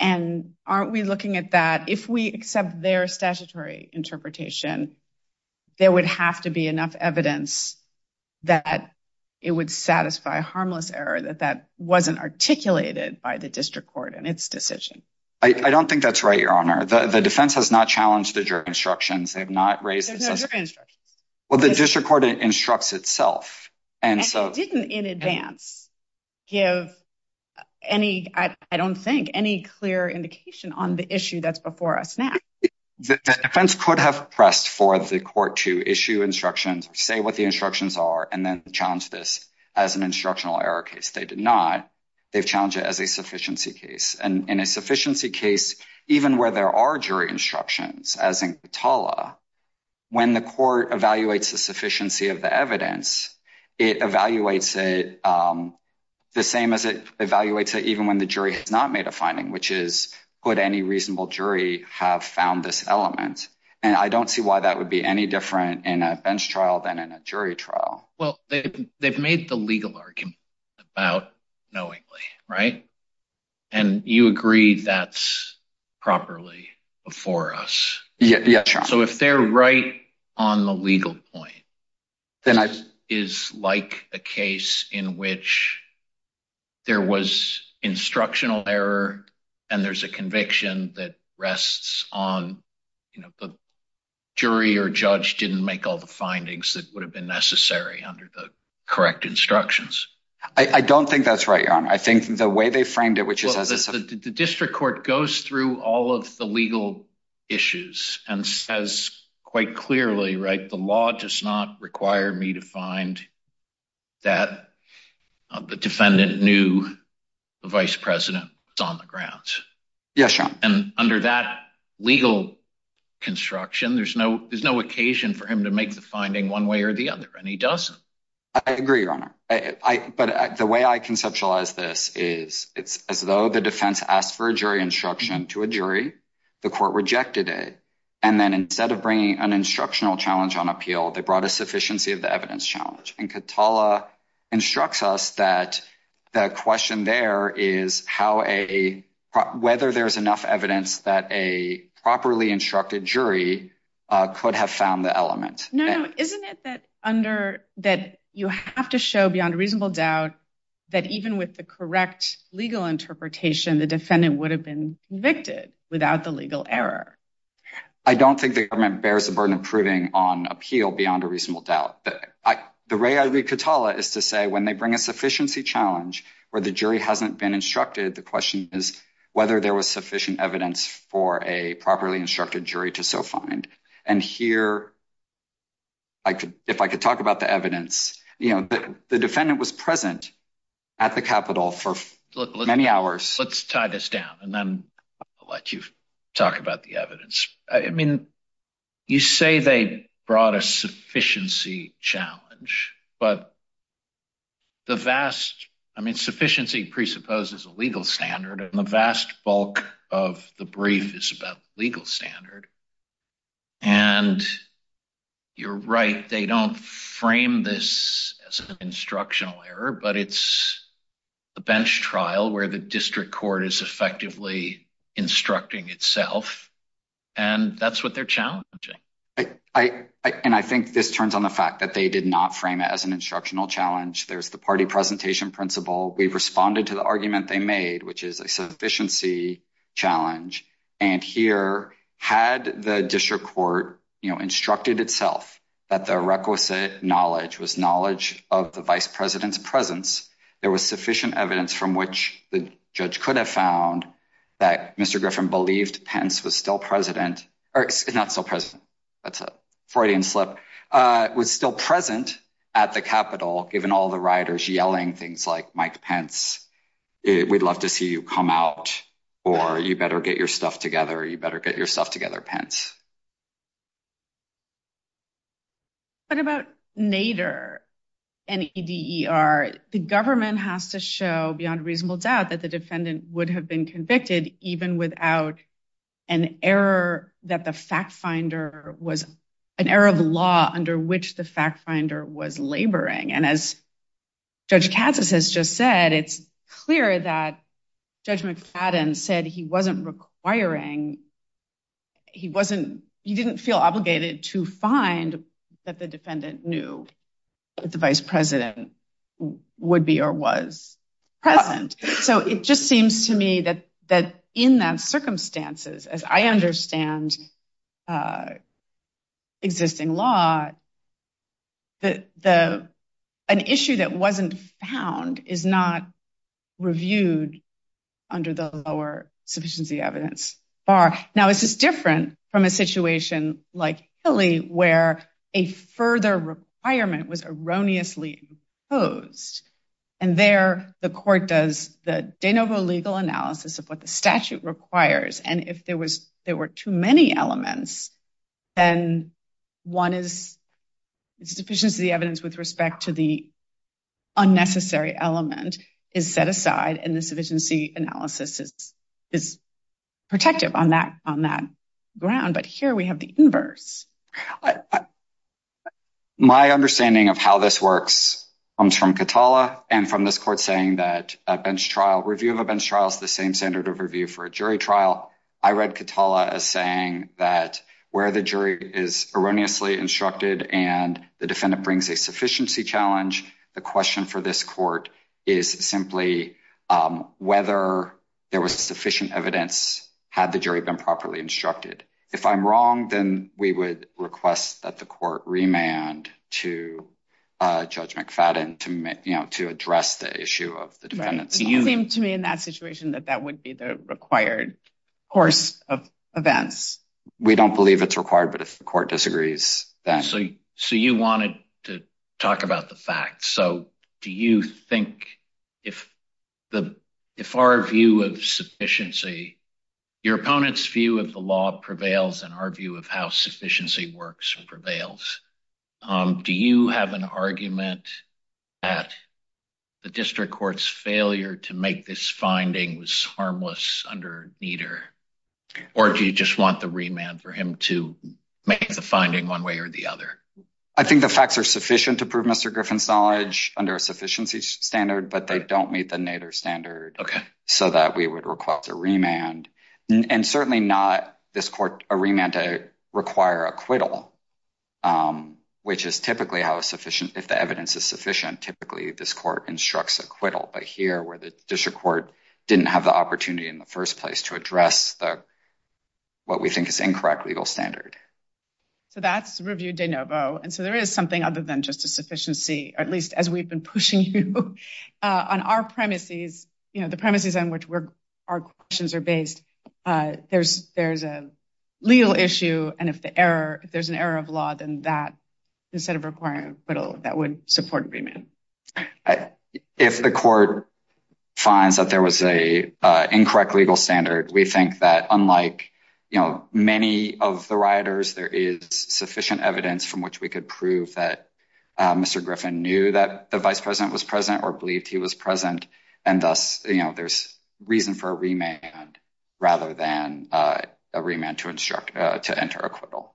And aren't we looking at that if we accept their statutory interpretation, there would have to be enough evidence that it would satisfy harmless error that that wasn't articulated by the district court in its decision. I don't think that's right, Your Honor. The defense has not challenged the jury instructions. They've not raised the jury instructions. Well, the district court instructs itself. And so it didn't in advance give any, I don't think, any clear indication on the issue that's before us now. The defense could have pressed for the court to issue instructions, say what the instructions are, and then challenge this as an instructional error case. They did not. They've challenged it as a sufficiency case. And in a sufficiency case, even where there are jury instructions, as in Kitala, when the court evaluates the sufficiency of the evidence, it evaluates it the same as it evaluates it even when the jury has not made a finding, which is, could any reasonable jury have found this element? And I don't see why that would be any different in a bench trial than in a jury trial. Well, they've made the legal argument about knowingly, right? And you agree that's properly before us. Yes, Your Honor. So if they're right on the legal point, this is like a case in which there was instructional error, and there's a conviction that rests on, you know, the jury or judge didn't make all the findings that would have been necessary under the correct instructions. I don't think that's right, Your Honor. I think the way they framed it, which is as the district court goes through all of the legal issues and says quite clearly, right, the law does not require me to find that the defendant knew the vice president was on the ground. Yes, Your Honor. And under that legal construction, there's no occasion for him to make the finding one way or the other, and he doesn't. I agree, Your Honor. But the way I conceptualize this is it's as though the defense asked for a jury instruction to a jury, the court rejected it, and then instead of bringing an attorney, the court brought a judge, and Katala instructs us that the question there is whether there's enough evidence that a properly instructed jury could have found the element. No, no. Isn't it that you have to show beyond reasonable doubt that even with the correct legal interpretation, the defendant would have been convicted without the legal error? I don't think the government is to say when they bring a sufficiency challenge where the jury hasn't been instructed, the question is whether there was sufficient evidence for a properly instructed jury to so find. And here, if I could talk about the evidence, you know, the defendant was present at the Capitol for many hours. Let's tie this down and then let you talk about the evidence. I mean, you say they brought a sufficiency challenge, but the vast, I mean, sufficiency presupposes a legal standard, and the vast bulk of the brief is about legal standard. And you're right, they don't frame this as an instructional error, but it's a bench trial where the district court is effectively instructing itself, and that's what they're challenging. And I think this turns on the fact that they did not frame it as an instructional challenge. There's the party presentation principle. We've responded to the argument they made, which is a sufficiency challenge. And here, had the district court, you know, instructed itself that the requisite knowledge was knowledge of the vice president's presence, there was sufficient evidence from which the judge could have found that Mr. Griffin believed Pence was still president, or not so president, that's a Freudian slip, was still present at the Capitol, given all the rioters yelling things like, Mike Pence, we'd love to see you come out, or you better get your stuff together, you better get your stuff together, Pence. What about Nader, N-E-D-E-R? The government has to show, beyond reasonable doubt, that the defendant would have been convicted even without an error that the fact finder was, an error of law under which the fact finder was laboring. And as Judge Katsas has just said, it's clear that Judge McFadden said he wasn't requiring, he wasn't, he didn't feel obligated to find that the defendant knew that the vice president would be or was present. So it just seems to me that in that circumstances, as I understand existing law, that an issue that is not reviewed under the lower sufficiency evidence bar. Now, this is different from a situation like Hilly, where a further requirement was erroneously imposed. And there, the court does the de novo legal analysis of what the statute requires, and if there were too many elements, then one is, it's sufficiency evidence with respect to the unnecessary element is set aside, and the sufficiency analysis is protective on that ground. But here we have the inverse. My understanding of how this works comes from Katala and from this court saying that a bench trial, review of a bench trial is the same standard of review for a jury trial. I read Katala as where the jury is erroneously instructed and the defendant brings a sufficiency challenge. The question for this court is simply whether there was sufficient evidence had the jury been properly instructed. If I'm wrong, then we would request that the court remand to Judge McFadden to address the issue of the defendants. You seem to me in that situation that that would be the course of events. We don't believe it's required, but if the court disagrees, then. So you wanted to talk about the facts. So do you think if our view of sufficiency, your opponent's view of the law prevails and our view of how sufficiency works prevails, do you have an argument that the district court's failure to make this finding was neither? Or do you just want the remand for him to make the finding one way or the other? I think the facts are sufficient to prove Mr. Griffin's knowledge under a sufficiency standard, but they don't meet the Nader standard so that we would request a remand. And certainly not this court a remand to require acquittal, which is typically how sufficient if the evidence is sufficient. Typically, this court instructs acquittal, but here where the district court didn't have the opportunity in the first place to address what we think is incorrect legal standard. So that's review de novo. And so there is something other than just a sufficiency, or at least as we've been pushing you on our premises, the premises on which our questions are based. There's a legal issue. And if there's an error of law, then that instead of requiring acquittal, that would support remand. If the court finds that there was an incorrect legal standard, we think that unlike, you know, many of the rioters, there is sufficient evidence from which we could prove that Mr. Griffin knew that the vice president was present or believed he was present. And thus, you know, there's reason for a remand rather than a remand to instruct to enter acquittal.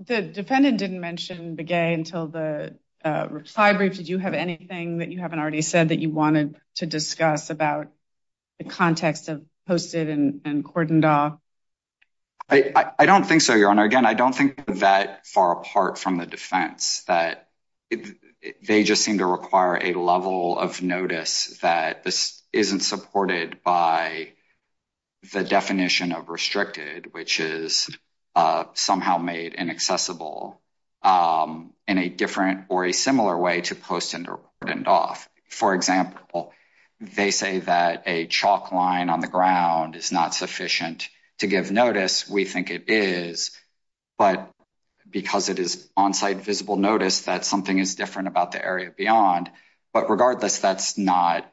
The defendant didn't mention Begay until the reply brief. Did you have anything that you haven't already said that you wanted to discuss about the context of Posted and Cordendaw? I don't think so, Your Honor. Again, I don't think that far apart from the defense that they just seem to require a level of notice that isn't supported by the definition of restricted, which is somehow made inaccessible in a different or a similar way to Posted and Cordendaw. For example, they say that a chalk line on the ground is not sufficient to give notice. We think it is, but because it is on-site visible notice that something is different about the area beyond. But regardless, that's not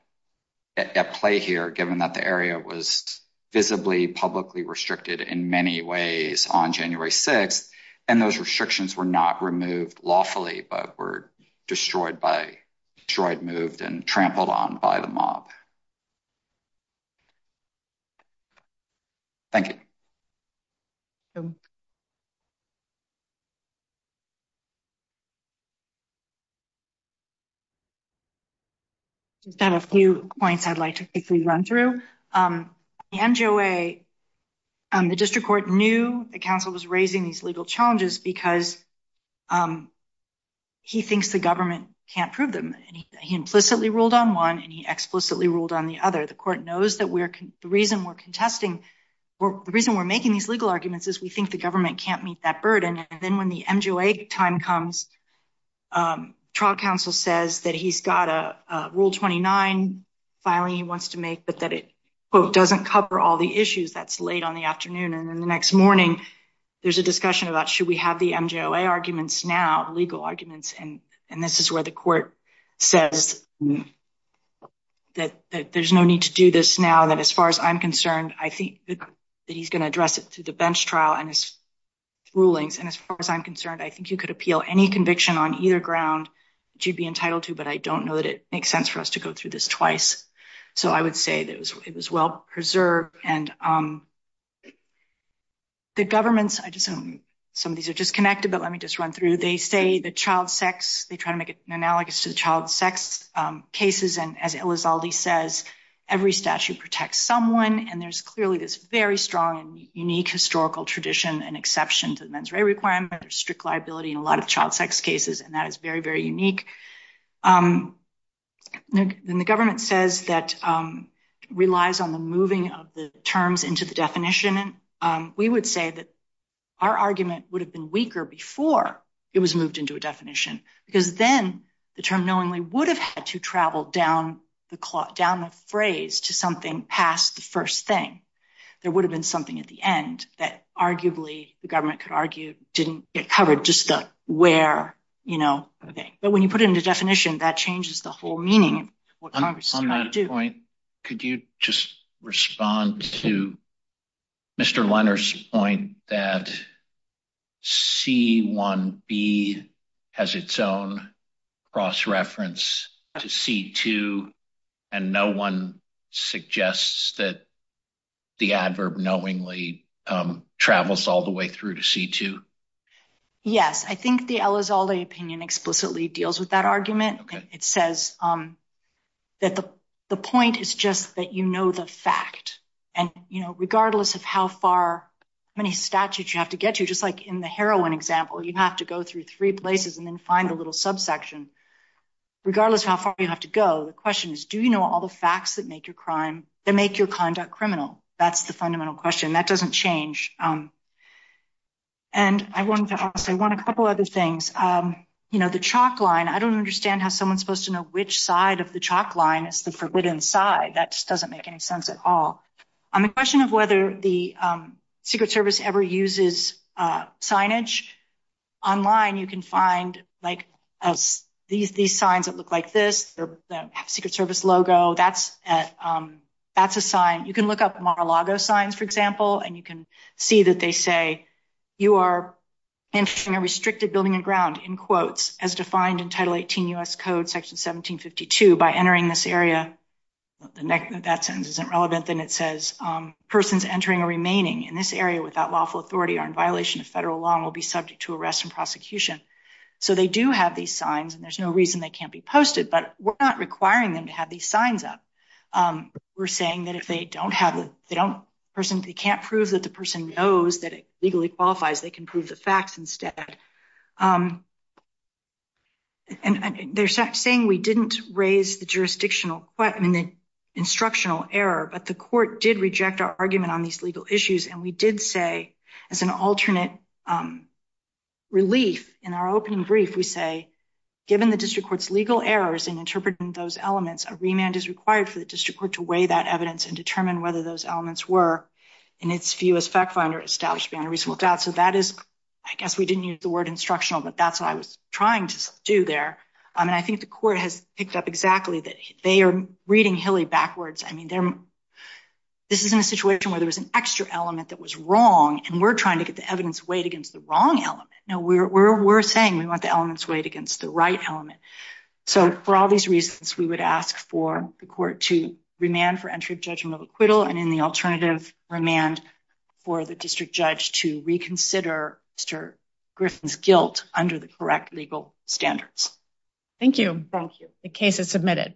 at play here given that the area was visibly publicly restricted in many ways on January 6th, and those restrictions were not removed lawfully, but were destroyed by, destroyed, moved, and trampled on by the mob. Thank you. Just had a few points I'd like to quickly run through. The NGOA, the district court, knew that counsel was raising these legal challenges because he thinks the government can't prove them. He implicitly ruled on one, and he explicitly ruled on the other. The court knows that the reason we're contesting, the reason we're making these legal arguments is we think the government can't meet that burden. And then when the NGOA time comes, trial counsel says that he's got a Rule 29 filing he wants to make, but that it, quote, doesn't cover all the issues. That's late on the afternoon. And then the next morning, there's a discussion about should we have the NGOA arguments now, legal arguments, and this is where the court says that there's no need to do this now, that as far as I'm concerned, I think that he's going to address it through the bench trial and his rulings. And as far as I'm concerned, I think you could appeal any conviction on either ground that you'd be entitled to, but I don't know that it makes sense for us to go through this twice. So I would say that it was well preserved. And the government's, I just, some of these are disconnected, but let me just run through. They say that child sex, they try to make it analogous to the child sex cases. And as Elizalde says, every statute protects someone. And there's clearly this very strong and unique historical tradition and exception to the mens rea requirement. There's strict liability in a lot of child sex cases, and that is very, very unique. Then the government says that relies on the moving of the terms into the argument would have been weaker before it was moved into a definition, because then the term knowingly would have had to travel down the clock, down the phrase to something past the first thing. There would have been something at the end that arguably the government could argue didn't get covered, just the where, you know. But when you put it into definition, that changes the whole meaning of what Congress is trying to do. On that point, could you just respond to Mr. Leonard's point that C-1B has its own cross-reference to C-2, and no one suggests that the adverb knowingly travels all the way through to C-2? Yes, I think the Elizalde opinion explicitly deals with that argument. It says that the point is just that you know the fact. And, you know, many statutes you have to get to, just like in the heroin example, you have to go through three places and then find the little subsection. Regardless of how far you have to go, the question is, do you know all the facts that make your conduct criminal? That's the fundamental question. That doesn't change. And I want to say a couple other things. You know, the chalk line, I don't understand how someone's supposed to know which side of the chalk line is the forbidden side. That just doesn't make any sense at all. On the question of whether the Secret Service ever uses signage, online you can find, like, these signs that look like this. They have a Secret Service logo. That's a sign. You can look up Mar-a-Lago signs, for example, and you can see that they say, you are entering a restricted building and ground, in quotes, as defined in that sentence, isn't relevant. Then it says, persons entering or remaining in this area without lawful authority are in violation of federal law and will be subject to arrest and prosecution. So they do have these signs, and there's no reason they can't be posted. But we're not requiring them to have these signs up. We're saying that if they don't have the, they don't, person, they can't prove that the person knows that it legally qualifies, they can prove the facts instead. And they're saying we didn't raise the jurisdictional, I mean, the instructional error, but the court did reject our argument on these legal issues. And we did say, as an alternate relief in our opening brief, we say, given the district court's legal errors in interpreting those elements, a remand is required for the district court to weigh that evidence and determine whether those elements were, in its view as fact finder, established beyond a reasonable doubt. So that is, I guess we didn't use the word instructional, but that's what I was trying to do there. And I think the court has picked up exactly that they are reading Hilly backwards. I mean, this isn't a situation where there was an extra element that was wrong, and we're trying to get the evidence weighed against the wrong element. No, we're saying we want the elements weighed against the right element. So for all these reasons, we would ask for the court to remand for entry of judgment of acquittal and in the alternative remand for the district judge to thank you. Thank you. The case is submitted.